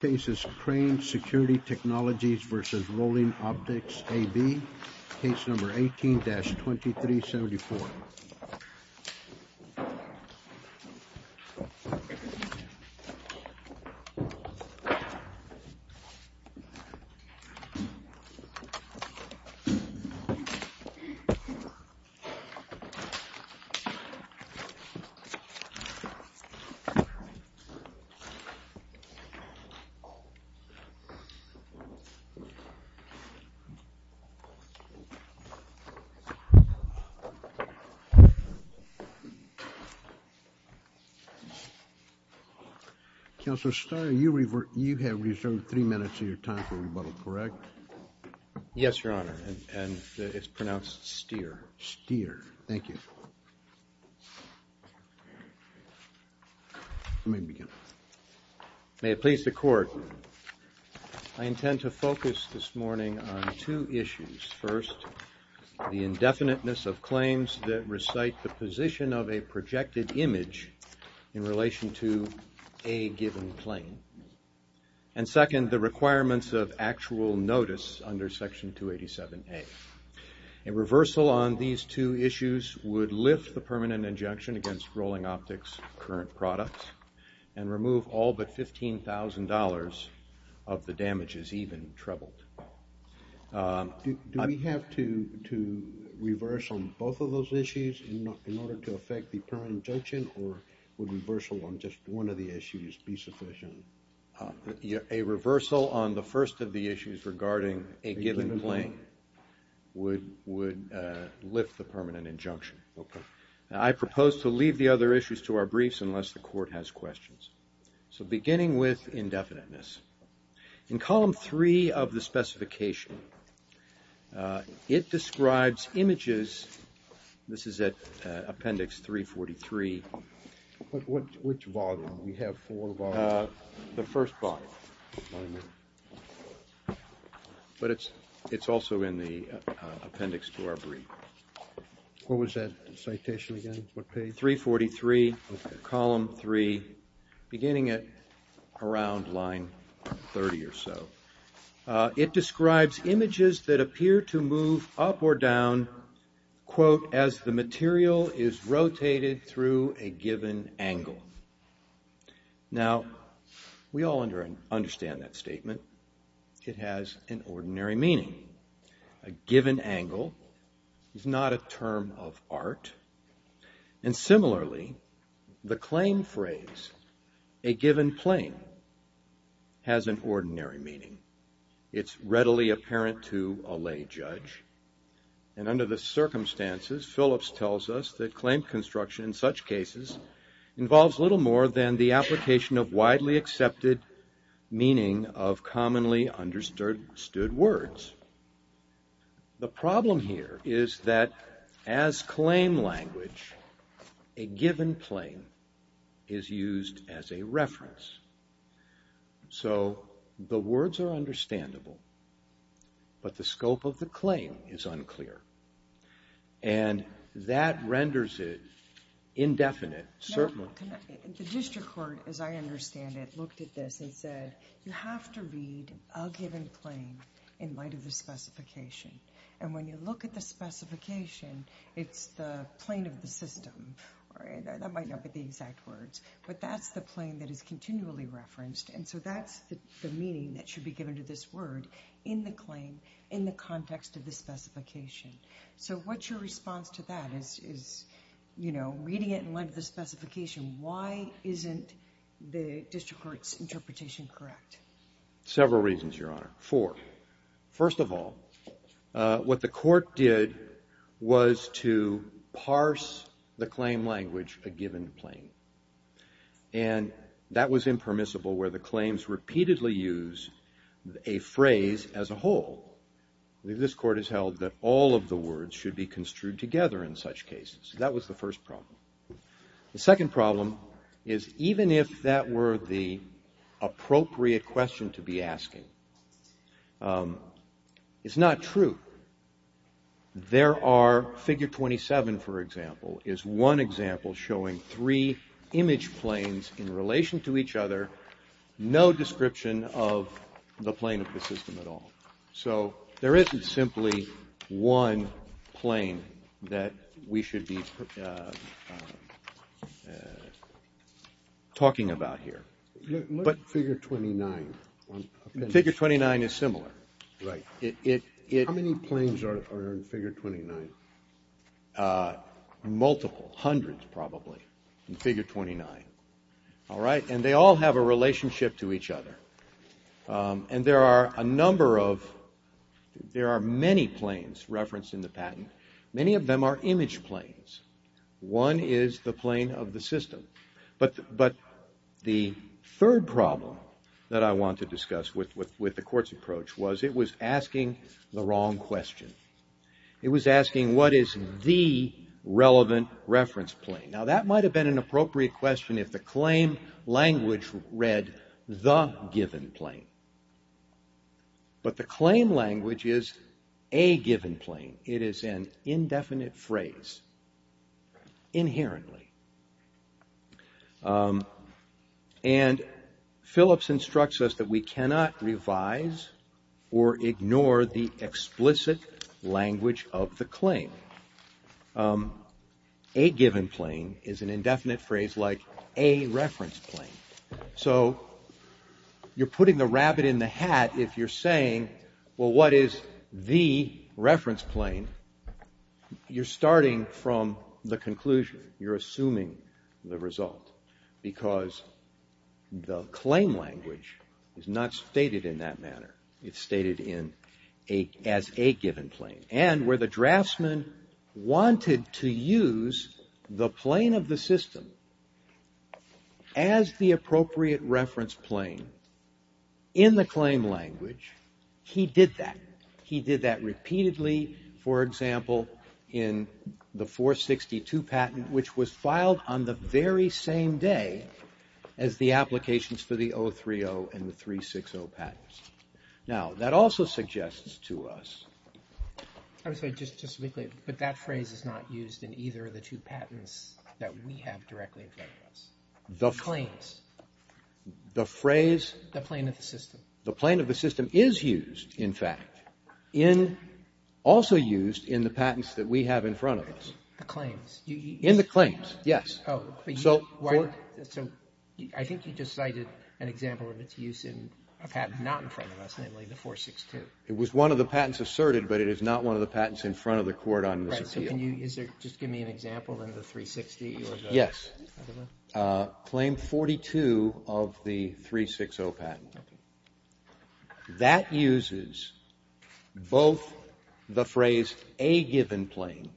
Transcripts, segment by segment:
Case number 18-2374. Counselor Steyer, you have reserved three minutes of your time for rebuttal, correct? Yes, Your Honor, and it's pronounced Steyer. Steyer, thank you. Let me begin. May it please the Court, I intend to focus this morning on two issues. First, the indefiniteness of claims that recite the position of a projected image in relation to a given claim. And second, the requirements of actual notice under Section 287A. A reversal on these two issues would lift the permanent injunction against Rolling Optics' current products and remove all but $15,000 of the damages even trebled. Do we have to reverse on both of those issues in order to affect the permanent injunction, or would reversal on just one of the issues be sufficient? A reversal on the first of the issues regarding a given claim would lift the permanent injunction. I propose to leave the other issues to our briefs unless the Court has questions. So beginning with indefiniteness. In Column 3 of the specification, it describes images. This is at Appendix 343. Which volume? We have four volumes. The first volume. But it's also in the appendix to our brief. What was that citation again? 343, Column 3, beginning at around line 30 or so. It describes images that appear to move up or down, quote, as the material is rotated through a given angle. Now, we all understand that statement. It has an ordinary meaning. And similarly, the claim phrase, a given plane, has an ordinary meaning. It's readily apparent to a lay judge. And under the circumstances, Phillips tells us that claim construction in such cases involves little more than the application of widely accepted meaning of commonly understood words. The problem here is that as claim language, a given plane is used as a reference. So the words are understandable, but the scope of the claim is unclear. And that renders it indefinite, certainly. The district court, as I understand it, looked at this and said, you have to read a given claim in light of the specification. And when you look at the specification, it's the plane of the system. That might not be the exact words, but that's the plane that is continually referenced. And so that's the meaning that should be given to this word in the claim, in the context of the specification. So what's your response to that? Is, you know, reading it in light of the specification, why isn't the district court's interpretation correct? Several reasons, Your Honor. Four. First of all, what the court did was to parse the claim language, a given plane. And that was impermissible where the claims repeatedly use a phrase as a whole. This court has held that all of the words should be construed together in such cases. That was the first problem. The second problem is, even if that were the appropriate question to be asking, it's not true. There are, figure 27, for example, is one example showing three image planes in relation to each other, no description of the plane of the system at all. So there isn't simply one plane that we should be talking about here. Look at figure 29. Figure 29 is similar. Right. How many planes are in figure 29? Multiple. Hundreds, probably, in figure 29. All right? And they all have a relationship to each other. And there are a number of, there are many planes referenced in the patent. Many of them are image planes. One is the plane of the system. But the third problem that I want to discuss with the court's approach was it was asking the wrong question. It was asking what is the relevant reference plane. Now, that might have been an appropriate question if the claim language read the given plane. But the claim language is a given plane. It is an indefinite phrase inherently. And Phillips instructs us that we cannot revise or ignore the explicit language of the claim. A given plane is an indefinite phrase like a reference plane. So you're putting the rabbit in the hat if you're saying, well, what is the reference plane? You're starting from the conclusion. You're assuming the result because the claim language is not stated in that manner. It's stated as a given plane. And where the draftsman wanted to use the plane of the system as the appropriate reference plane in the claim language, he did that. He did that repeatedly. For example, in the 462 patent, which was filed on the very same day as the applications for the 030 and the 360 patents. Now, that also suggests to us. I'm sorry, just quickly. But that phrase is not used in either of the two patents that we have directly in front of us. The claims. The phrase. The plane of the system. The plane of the system is used, in fact, in also used in the patents that we have in front of us. The claims. In the claims, yes. So I think you just cited an example of its use in a patent not in front of us, namely the 462. It was one of the patents asserted, but it is not one of the patents in front of the court on this appeal. Can you just give me an example in the 360? Yes. Claim 42 of the 360 patent. That uses both the phrase a given plane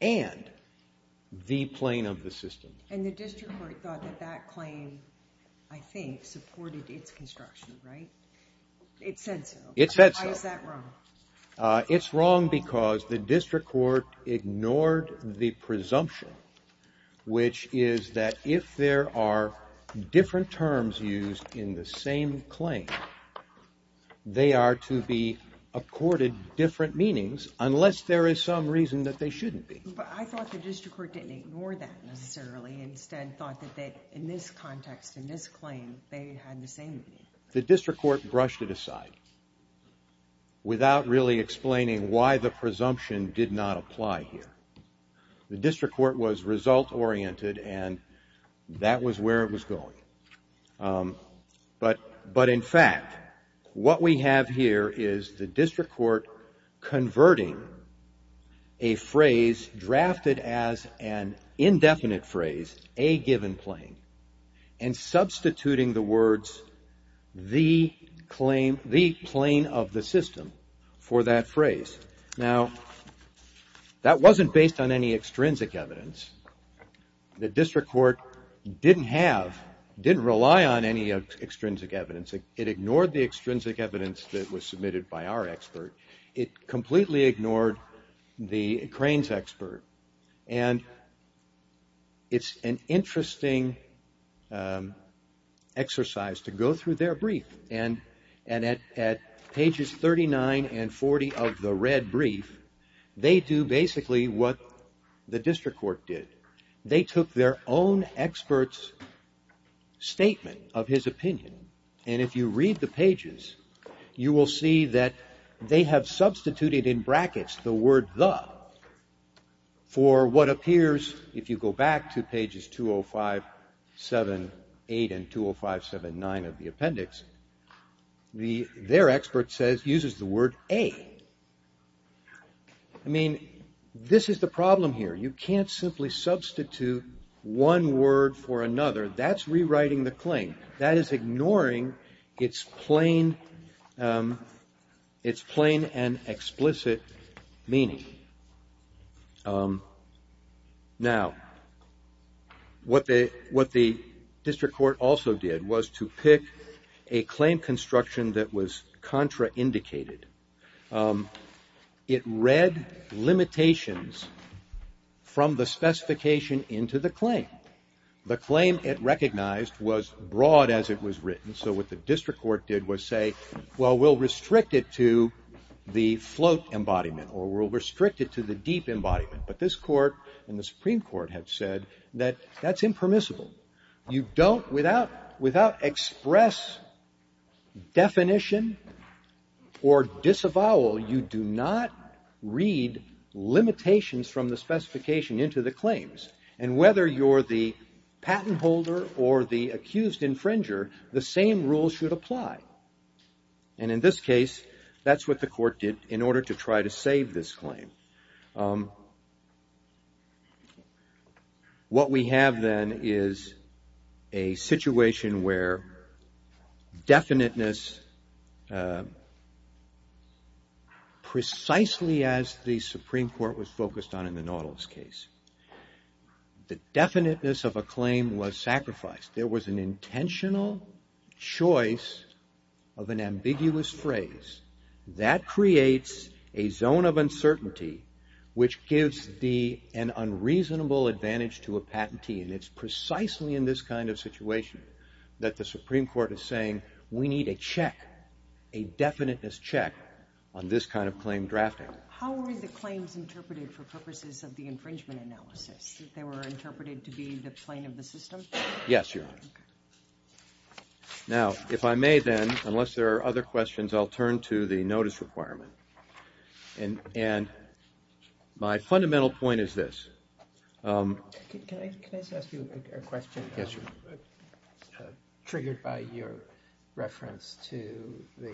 and the plane of the system. And the district court thought that that claim, I think, supported its construction, right? It said so. It said so. Why is that wrong? It's wrong because the district court ignored the presumption, which is that if there are different terms used in the same claim, they are to be accorded different meanings unless there is some reason that they shouldn't be. But I thought the district court didn't ignore that necessarily, instead thought that in this context, in this claim, they had the same meaning. The district court brushed it aside without really explaining why the presumption did not apply here. The district court was result-oriented, and that was where it was going. But in fact, what we have here is the district court converting a phrase drafted as an indefinite phrase, a given plane, and substituting the words the claim, the plane of the system for that phrase. Now, that wasn't based on any extrinsic evidence. The district court didn't have, didn't rely on any extrinsic evidence. It ignored the extrinsic evidence that was submitted by our expert. It completely ignored the crane's expert. And it's an interesting exercise to go through their brief. And at pages 39 and 40 of the red brief, they do basically what the district court did. They took their own expert's statement of his opinion. And if you read the pages, you will see that they have substituted in brackets the word the for what appears, if you go back to pages 20578 and 20579 of the appendix, their expert says uses the word a. I mean, this is the problem here. You can't simply substitute one word for another. That's rewriting the claim. That is ignoring its plain and explicit meaning. Now, what the district court also did was to pick a claim construction that was contraindicated. It read limitations from the specification into the claim. The claim it recognized was broad as it was written. So what the district court did was say, well, we'll restrict it to the float embodiment, or we'll restrict it to the deep embodiment. But this court and the Supreme Court have said that that's impermissible. You don't, without express definition or disavowal, you do not read limitations from the specification into the claims. And whether you're the patent holder or the accused infringer, the same rules should apply. And in this case, that's what the court did in order to try to save this claim. What we have, then, is a situation where definiteness, precisely as the Supreme Court was focused on in the Nautilus case, the definiteness of a claim was sacrificed. There was an intentional choice of an ambiguous phrase. That creates a zone of uncertainty, which gives an unreasonable advantage to a patentee. And it's precisely in this kind of situation that the Supreme Court is saying, we need a check, a definiteness check, on this kind of claim drafting. How were the claims interpreted for purposes of the infringement analysis? They were interpreted to be the plain of the system? Yes, Your Honor. Now, if I may, then, unless there are other questions, I'll turn to the notice requirement. And my fundamental point is this. Can I just ask you a question? Yes, Your Honor. Triggered by your reference to the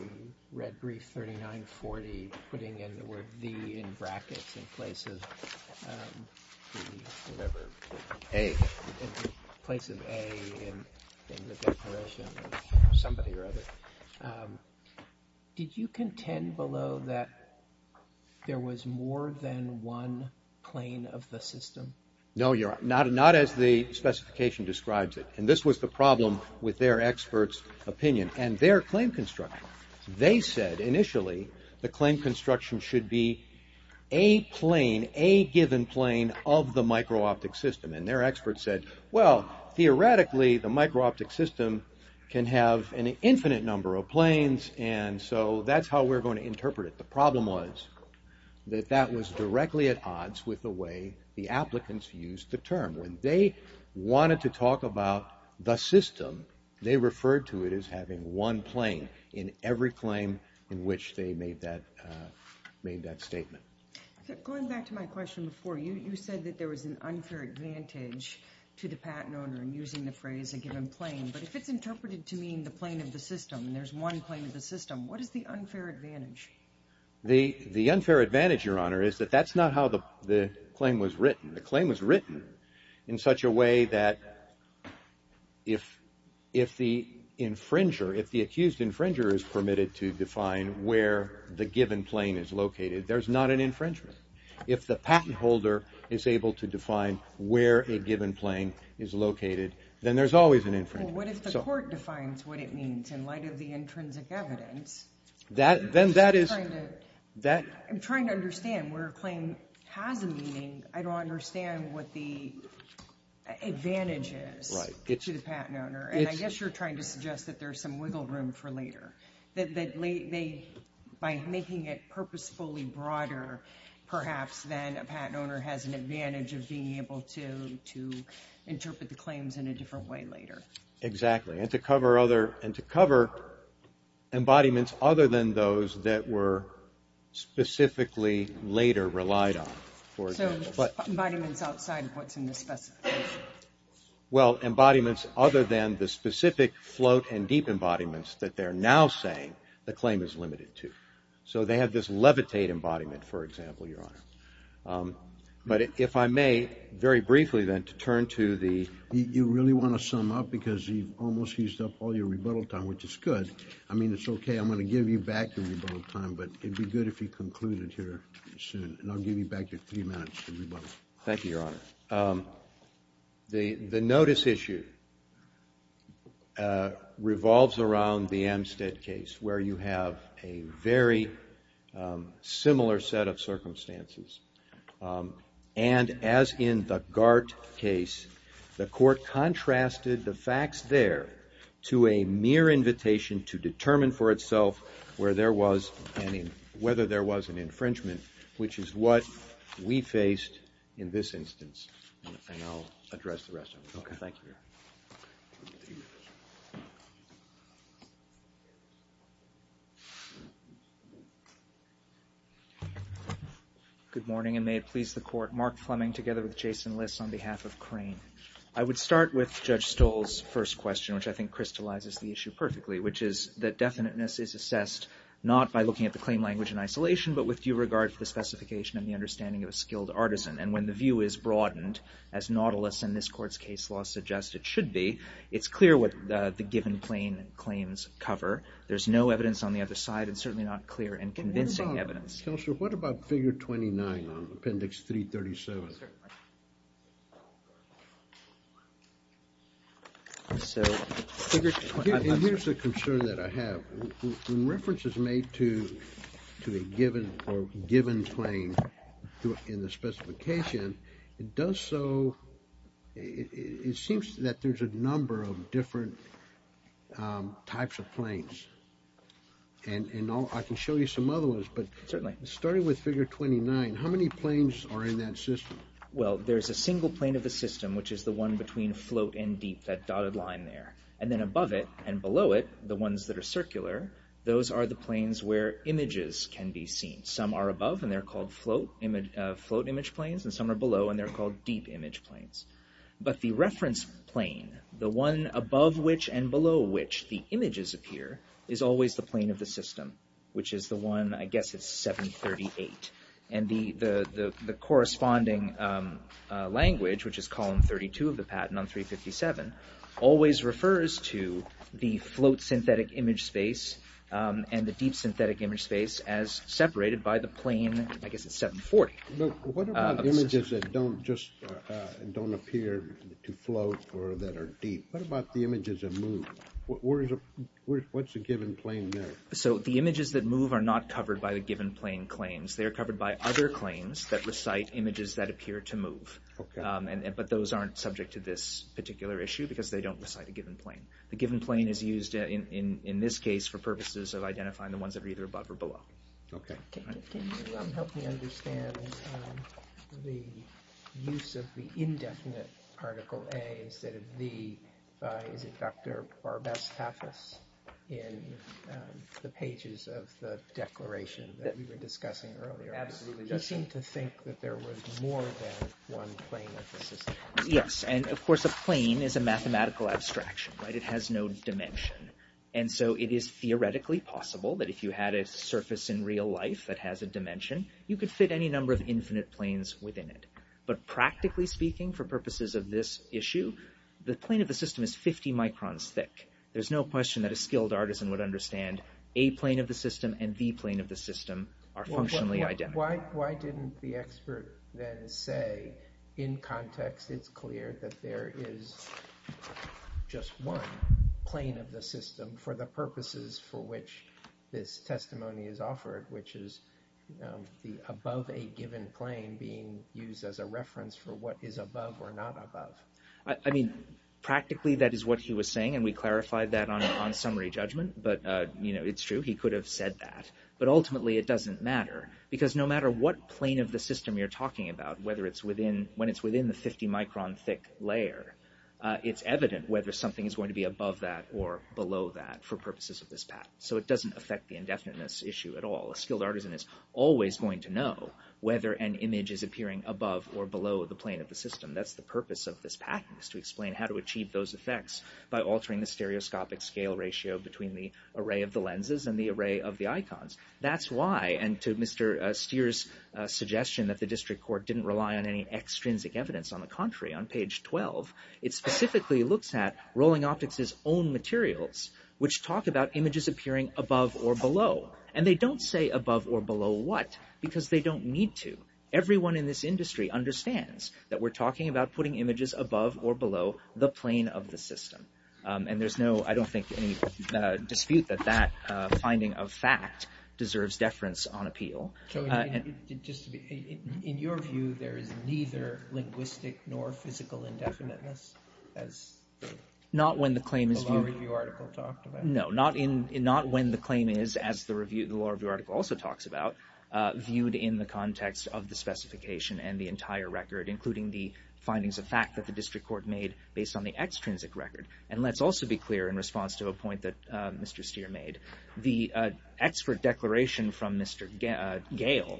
red brief 3940, putting in the word the in brackets in place of whatever, a, in place of a in the declaration of somebody or other. Did you contend below that there was more than one plain of the system? No, Your Honor. Not as the specification describes it. And this was the problem with their expert's opinion and their claim construction. They said initially the claim construction should be a plain, a given plain of the micro-optic system. And their expert said, well, theoretically, the micro-optic system can have an infinite number of planes. And so that's how we're going to interpret it. The problem was that that was directly at odds with the way the applicants used the term. When they wanted to talk about the system, they referred to it as having one plain in every claim in which they made that statement. Going back to my question before, you said that there was an unfair advantage to the patent owner in using the phrase a given plain. But if it's interpreted to mean the plain of the system and there's one plain of the system, what is the unfair advantage? The unfair advantage, Your Honor, is that that's not how the claim was written. The claim was written in such a way that if the infringer, if the accused infringer is permitted to define where the given plain is located, there's not an infringement. If the patent holder is able to define where a given plain is located, then there's always an infringement. Well, what if the court defines what it means in light of the intrinsic evidence? Then that is – I'm trying to understand where a claim has a meaning. I don't understand what the advantage is to the patent owner. And I guess you're trying to suggest that there's some wiggle room for later, that by making it purposefully broader, perhaps then a patent owner has an advantage of being able to interpret the claims in a different way later. Exactly. And to cover other – and to cover embodiments other than those that were specifically later relied on. So, embodiments outside of what's in the specification? Well, embodiments other than the specific float and deep embodiments that they're now saying the claim is limited to. So, they have this levitate embodiment, for example, Your Honor. But if I may, very briefly then, to turn to the – You really want to sum up because you've almost used up all your rebuttal time, which is good. I mean, it's okay. I'm going to give you back your rebuttal time, but it'd be good if you concluded here soon. And I'll give you back your three minutes to rebuttal. Thank you, Your Honor. The notice issue revolves around the Amstead case, where you have a very similar set of circumstances. And as in the Gart case, the court contrasted the facts there to a mere invitation to determine for itself where there was – which is what we faced in this instance. And I'll address the rest of it. Thank you, Your Honor. Good morning, and may it please the Court. Mark Fleming together with Jason Liss on behalf of Crane. I would start with Judge Stoll's first question, which I think crystallizes the issue perfectly, which is that definiteness is assessed not by looking at the claim language in isolation, but with due regard for the specification and the understanding of a skilled artisan. And when the view is broadened, as Nautilus and this Court's case law suggests it should be, it's clear what the given claims cover. There's no evidence on the other side, and certainly not clear and convincing evidence. Counselor, what about Figure 29 on Appendix 337? And here's a concern that I have. When reference is made to a given claim in the specification, it does so – it seems that there's a number of different types of claims. And I can show you some other ones, but starting with Figure 29, how many claims are in that system? Well, there's a single claim of the system, which is the one between float and deep, that dotted line there. And then above it and below it, the ones that are circular, those are the planes where images can be seen. Some are above, and they're called float image planes, and some are below, and they're called deep image planes. But the reference plane, the one above which and below which the images appear, is always the plane of the system, which is the one – I guess it's 738. And the corresponding language, which is Column 32 of the patent on 357, always refers to the float synthetic image space and the deep synthetic image space as separated by the plane – I guess it's 740. But what about images that don't just – don't appear to float or that are deep? What about the images that move? What's a given plane there? So the images that move are not covered by the given plane claims. They are covered by other claims that recite images that appear to move. But those aren't subject to this particular issue because they don't recite a given plane. The given plane is used in this case for purposes of identifying the ones that are either above or below. Can you help me understand the use of the indefinite Article A instead of the – is it Dr. Barbastathis in the pages of the declaration that we were discussing earlier? Absolutely. He seemed to think that there was more than one plane of the system. Yes. And, of course, a plane is a mathematical abstraction. It has no dimension. And so it is theoretically possible that if you had a surface in real life that has a dimension, you could fit any number of infinite planes within it. But practically speaking, for purposes of this issue, the plane of the system is 50 microns thick. There's no question that a skilled artisan would understand a plane of the system and the plane of the system are functionally identical. Why didn't the expert then say in context it's clear that there is just one plane of the system for the purposes for which this testimony is offered, which is the above a given plane being used as a reference for what is above or not above? I mean, practically, that is what he was saying, and we clarified that on summary judgment. But, you know, it's true. He could have said that. But ultimately, it doesn't matter because no matter what plane of the system you're talking about, whether it's within when it's within the 50 micron thick layer, it's evident whether something is going to be above that or below that for purposes of this patent. So it doesn't affect the indefiniteness issue at all. A skilled artisan is always going to know whether an image is appearing above or below the plane of the system. That's the purpose of this patent is to explain how to achieve those effects by altering the stereoscopic scale ratio between the array of the lenses and the array of the icons. That's why, and to Mr. Steer's suggestion that the district court didn't rely on any extrinsic evidence. On the contrary, on page 12, it specifically looks at Rolling Optics' own materials, which talk about images appearing above or below. And they don't say above or below what because they don't need to. Everyone in this industry understands that we're talking about putting images above or below the plane of the system. And there's no, I don't think, any dispute that that finding of fact deserves deference on appeal. In your view, there is neither linguistic nor physical indefiniteness as the law review article talked about? No, not when the claim is, as the law review article also talks about, viewed in the context of the specification and the entire record, including the findings of fact that the district court made based on the extrinsic record. And let's also be clear in response to a point that Mr. Steer made. The expert declaration from Mr. Gale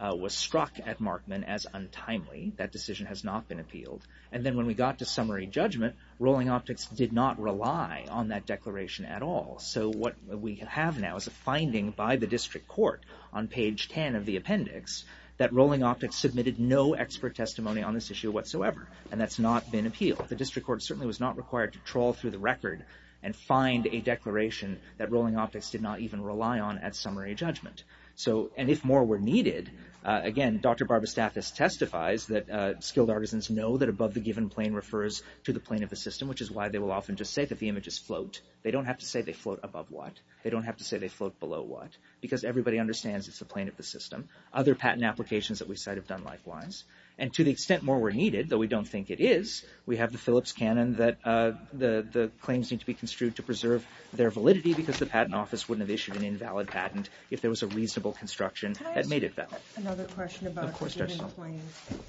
was struck at Markman as untimely. That decision has not been appealed. And then when we got to summary judgment, Rolling Optics did not rely on that declaration at all. So what we have now is a finding by the district court on page 10 of the appendix that Rolling Optics submitted no expert testimony on this issue whatsoever. And that's not been appealed. The district court certainly was not required to trawl through the record and find a declaration that Rolling Optics did not even rely on at summary judgment. And if more were needed, again, Dr. Barbastathis testifies that skilled artisans know that above the given plane refers to the plane of the system, which is why they will often just say that the images float. They don't have to say they float above what. They don't have to say they float below what. Because everybody understands it's the plane of the system. Other patent applications that we cite have done likewise. And to the extent more were needed, though we don't think it is, we have the Phillips canon that the claims need to be construed to preserve their validity because the patent office wouldn't have issued an invalid patent if there was a reasonable construction that made it valid. Can I ask another question about the given plane?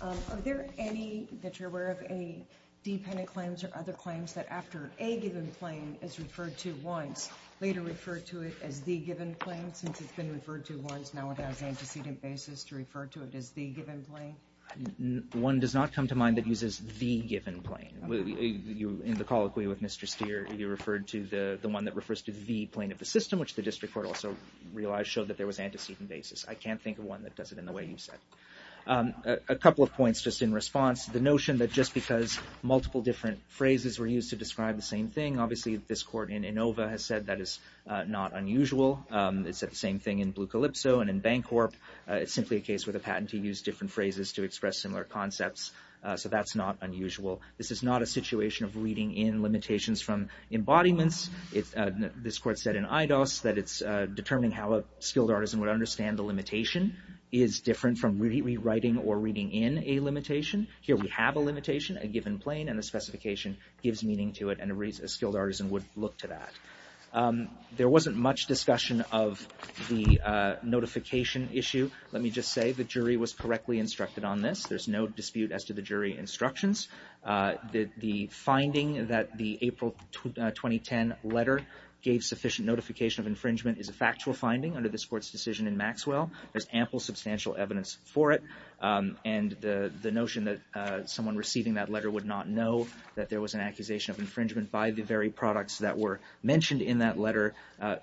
Are there any, that you're aware of, any dependent claims or other claims that after a given plane is referred to once, later referred to it as the given plane, not since it's been referred to once, now it has antecedent basis to refer to it as the given plane? One does not come to mind that uses the given plane. In the colloquy with Mr. Steer, you referred to the one that refers to the plane of the system, which the district court also realized showed that there was antecedent basis. I can't think of one that does it in the way you said. A couple of points just in response. The notion that just because multiple different phrases were used to describe the same thing, obviously this court in Inova has said that is not unusual. It's the same thing in Blucalipso and in Bancorp. It's simply a case where the patentee used different phrases to express similar concepts. So that's not unusual. This is not a situation of reading in limitations from embodiments. This court said in Eidos that it's determining how a skilled artisan would understand the limitation is different from rewriting or reading in a limitation. Here we have a limitation, a given plane, and the specification gives meaning to it and a skilled artisan would look to that. There wasn't much discussion of the notification issue. Let me just say the jury was correctly instructed on this. There's no dispute as to the jury instructions. The finding that the April 2010 letter gave sufficient notification of infringement is a factual finding under this court's decision in Maxwell. There's ample substantial evidence for it, and the notion that someone receiving that letter would not know that there was an accusation of infringement by the very products that were mentioned in that letter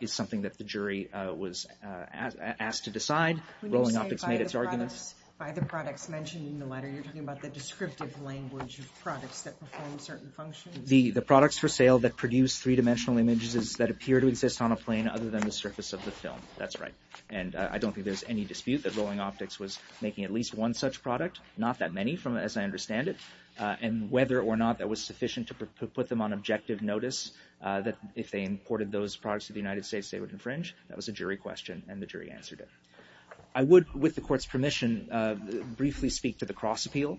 is something that the jury was asked to decide. Rolling Optics made its arguments. When you say by the products mentioned in the letter, you're talking about the descriptive language of products that perform certain functions? The products for sale that produce three-dimensional images that appear to exist on a plane other than the surface of the film. That's right. And I don't think there's any dispute that Rolling Optics was making at least one such product, not that many as I understand it, and whether or not that was sufficient to put them on objective notice that if they imported those products to the United States, they would infringe. That was a jury question, and the jury answered it. I would, with the court's permission, briefly speak to the cross-appeal,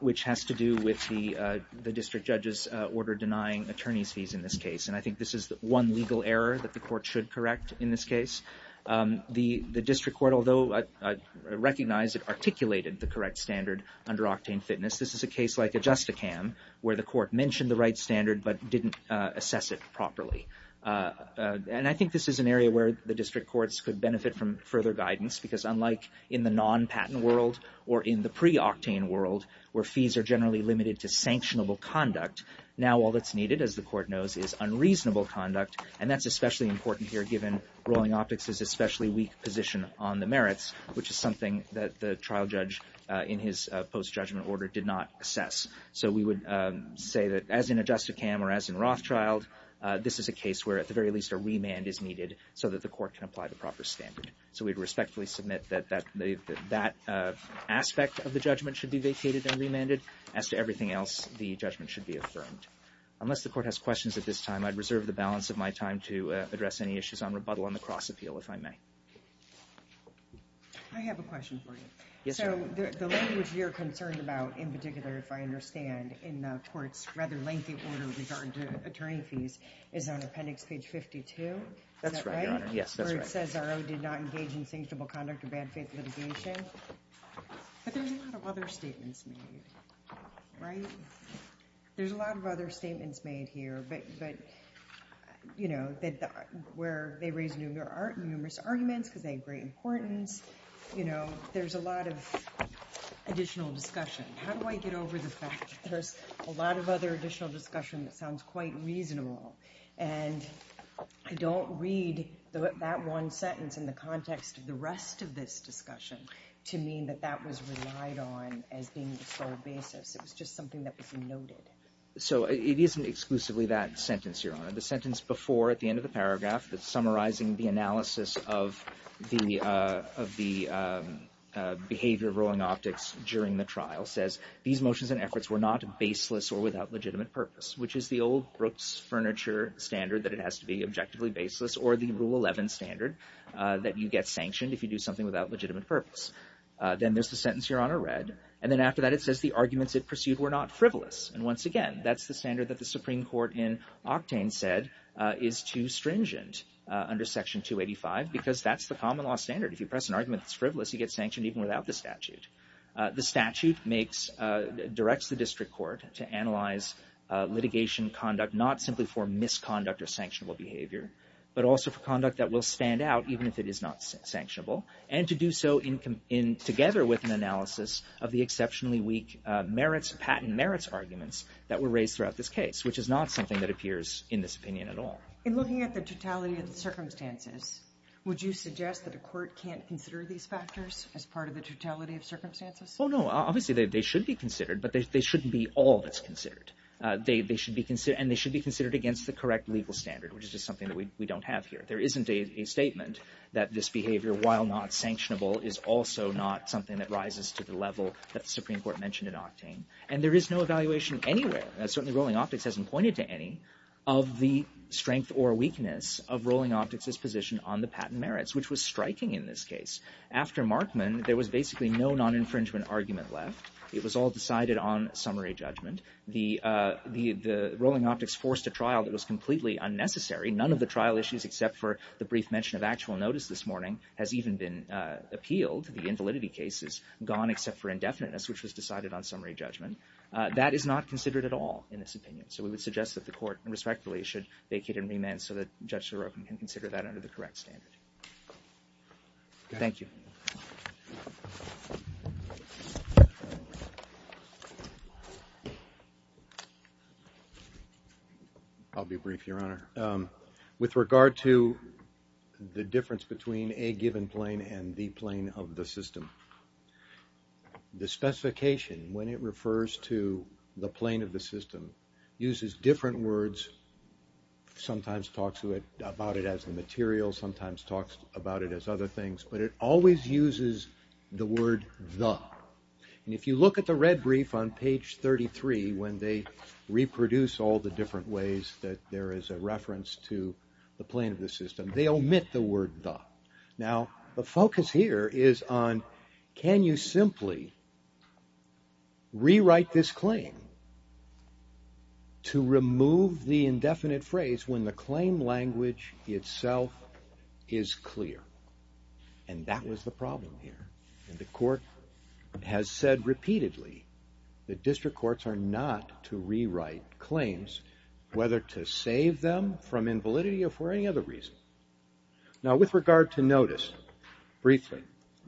which has to do with the district judge's order denying attorney's fees in this case, and I think this is one legal error that the court should correct in this case. The district court, although I recognize it articulated the correct standard under Octane Fitness, this is a case like Adjusticam where the court mentioned the right standard but didn't assess it properly. And I think this is an area where the district courts could benefit from further guidance because unlike in the non-patent world or in the pre-Octane world where fees are generally limited to sanctionable conduct, now all that's needed, as the court knows, is unreasonable conduct, and that's especially important here given Rolling Optics' especially weak position on the merits, which is something that the trial judge in his post-judgment order did not assess. So we would say that as in Adjusticam or as in Rothschild, this is a case where at the very least a remand is needed so that the court can apply the proper standard. So we'd respectfully submit that that aspect of the judgment should be vacated and remanded. As to everything else, the judgment should be affirmed. Unless the court has questions at this time, I'd reserve the balance of my time to address any issues on rebuttal on the cross-appeal if I may. I have a question for you. Yes, ma'am. So the language you're concerned about in particular, if I understand, in the court's rather lengthy order with regard to attorney fees is on appendix page 52. Is that right? That's right, Your Honor. Yes, that's right. Where it says RO did not engage in sanctionable conduct or bad faith litigation. But there's a lot of other statements made, right? There's a lot of other statements made here, but, you know, where they raise numerous arguments because they have great importance. You know, there's a lot of additional discussion. How do I get over the fact that there's a lot of other additional discussion that sounds quite reasonable? And I don't read that one sentence in the context of the rest of this discussion to mean that that was relied on as being the sole basis. It was just something that was noted. So it isn't exclusively that sentence, Your Honor. The sentence before, at the end of the paragraph, that's summarizing the analysis of the behavior of rolling optics during the trial says, these motions and efforts were not baseless or without legitimate purpose, which is the old Brooks Furniture standard that it has to be objectively baseless or the Rule 11 standard that you get sanctioned if you do something without legitimate purpose. Then there's the sentence, Your Honor, read. And then after that, it says the arguments it pursued were not frivolous. And once again, that's the standard that the Supreme Court in Octane said is too stringent under Section 285 because that's the common law standard. If you press an argument that's frivolous, you get sanctioned even without the statute. The statute directs the district court to analyze litigation conduct, not simply for misconduct or sanctionable behavior, but also for conduct that will stand out even if it is not sanctionable, and to do so together with an analysis of the exceptionally weak merits, patent merits arguments that were raised throughout this case, which is not something that appears in this opinion at all. In looking at the totality of the circumstances, would you suggest that a court can't consider these factors as part of the totality of circumstances? Well, no. Obviously, they should be considered, but they shouldn't be all that's considered. And they should be considered against the correct legal standard, which is just something that we don't have here. There isn't a statement that this behavior, while not sanctionable, is also not something that rises to the level that the Supreme Court mentioned in Octane. And there is no evaluation anywhere, and certainly Rolling Optics hasn't pointed to any, of the strength or weakness of Rolling Optics' position on the patent merits, which was striking in this case. After Markman, there was basically no non-infringement argument left. It was all decided on summary judgment. The Rolling Optics forced a trial that was completely unnecessary. None of the trial issues except for the brief mention of actual notice this morning has even been appealed. The invalidity case is gone except for indefiniteness, which was decided on summary judgment. That is not considered at all in this opinion. So we would suggest that the court respectfully should vacate and remand so that Judge Sorokin can consider that under the correct standard. Thank you. I'll be brief, Your Honor. With regard to the difference between a given plane and the plane of the system, the specification, when it refers to the plane of the system, uses different words, sometimes talks about it as the material, sometimes talks about it as other things, but it always uses the word the. And if you look at the red brief on page 33, when they reproduce all the different ways that there is a reference to the plane of the system, they omit the word the. Now, the focus here is on can you simply rewrite this claim to remove the indefinite phrase when the claim language itself is clear? And that was the problem here. The court has said repeatedly that district courts are not to rewrite claims, whether to save them from invalidity or for any other reason. Now, with regard to notice, briefly,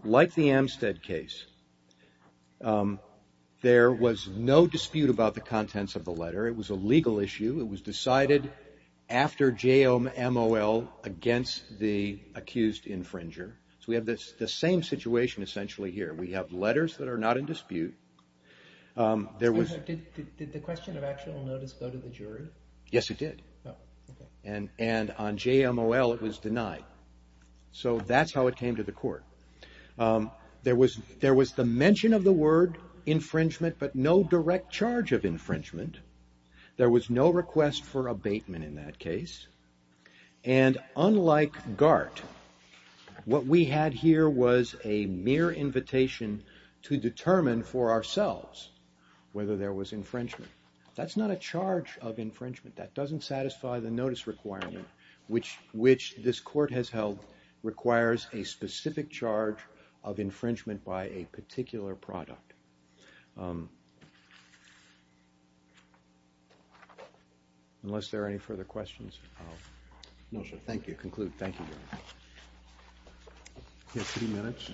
like the Amstead case, there was no dispute about the contents of the letter. It was a legal issue. It was decided after J.M.O.L. against the accused infringer. So we have the same situation essentially here. We have letters that are not in dispute. Did the question of actual notice go to the jury? Yes, it did. And on J.M.O.L. it was denied. So that's how it came to the court. There was the mention of the word infringement, but no direct charge of infringement. There was no request for abatement in that case. And unlike Gart, what we had here was a mere invitation to determine for ourselves whether there was infringement. That's not a charge of infringement. That doesn't satisfy the notice requirement, which this court has held requires a specific charge of infringement by a particular product. Unless there are any further questions. No, sir. Thank you. Conclude. Thank you, Your Honor. You have three minutes.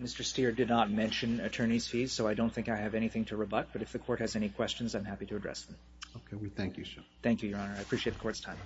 Mr. Steer did not mention attorney's fees, so I don't think I have anything to rebut. But if the court has any questions, I'm happy to address them. Okay. We thank you, sir. Thank you, Your Honor. I appreciate the court's time.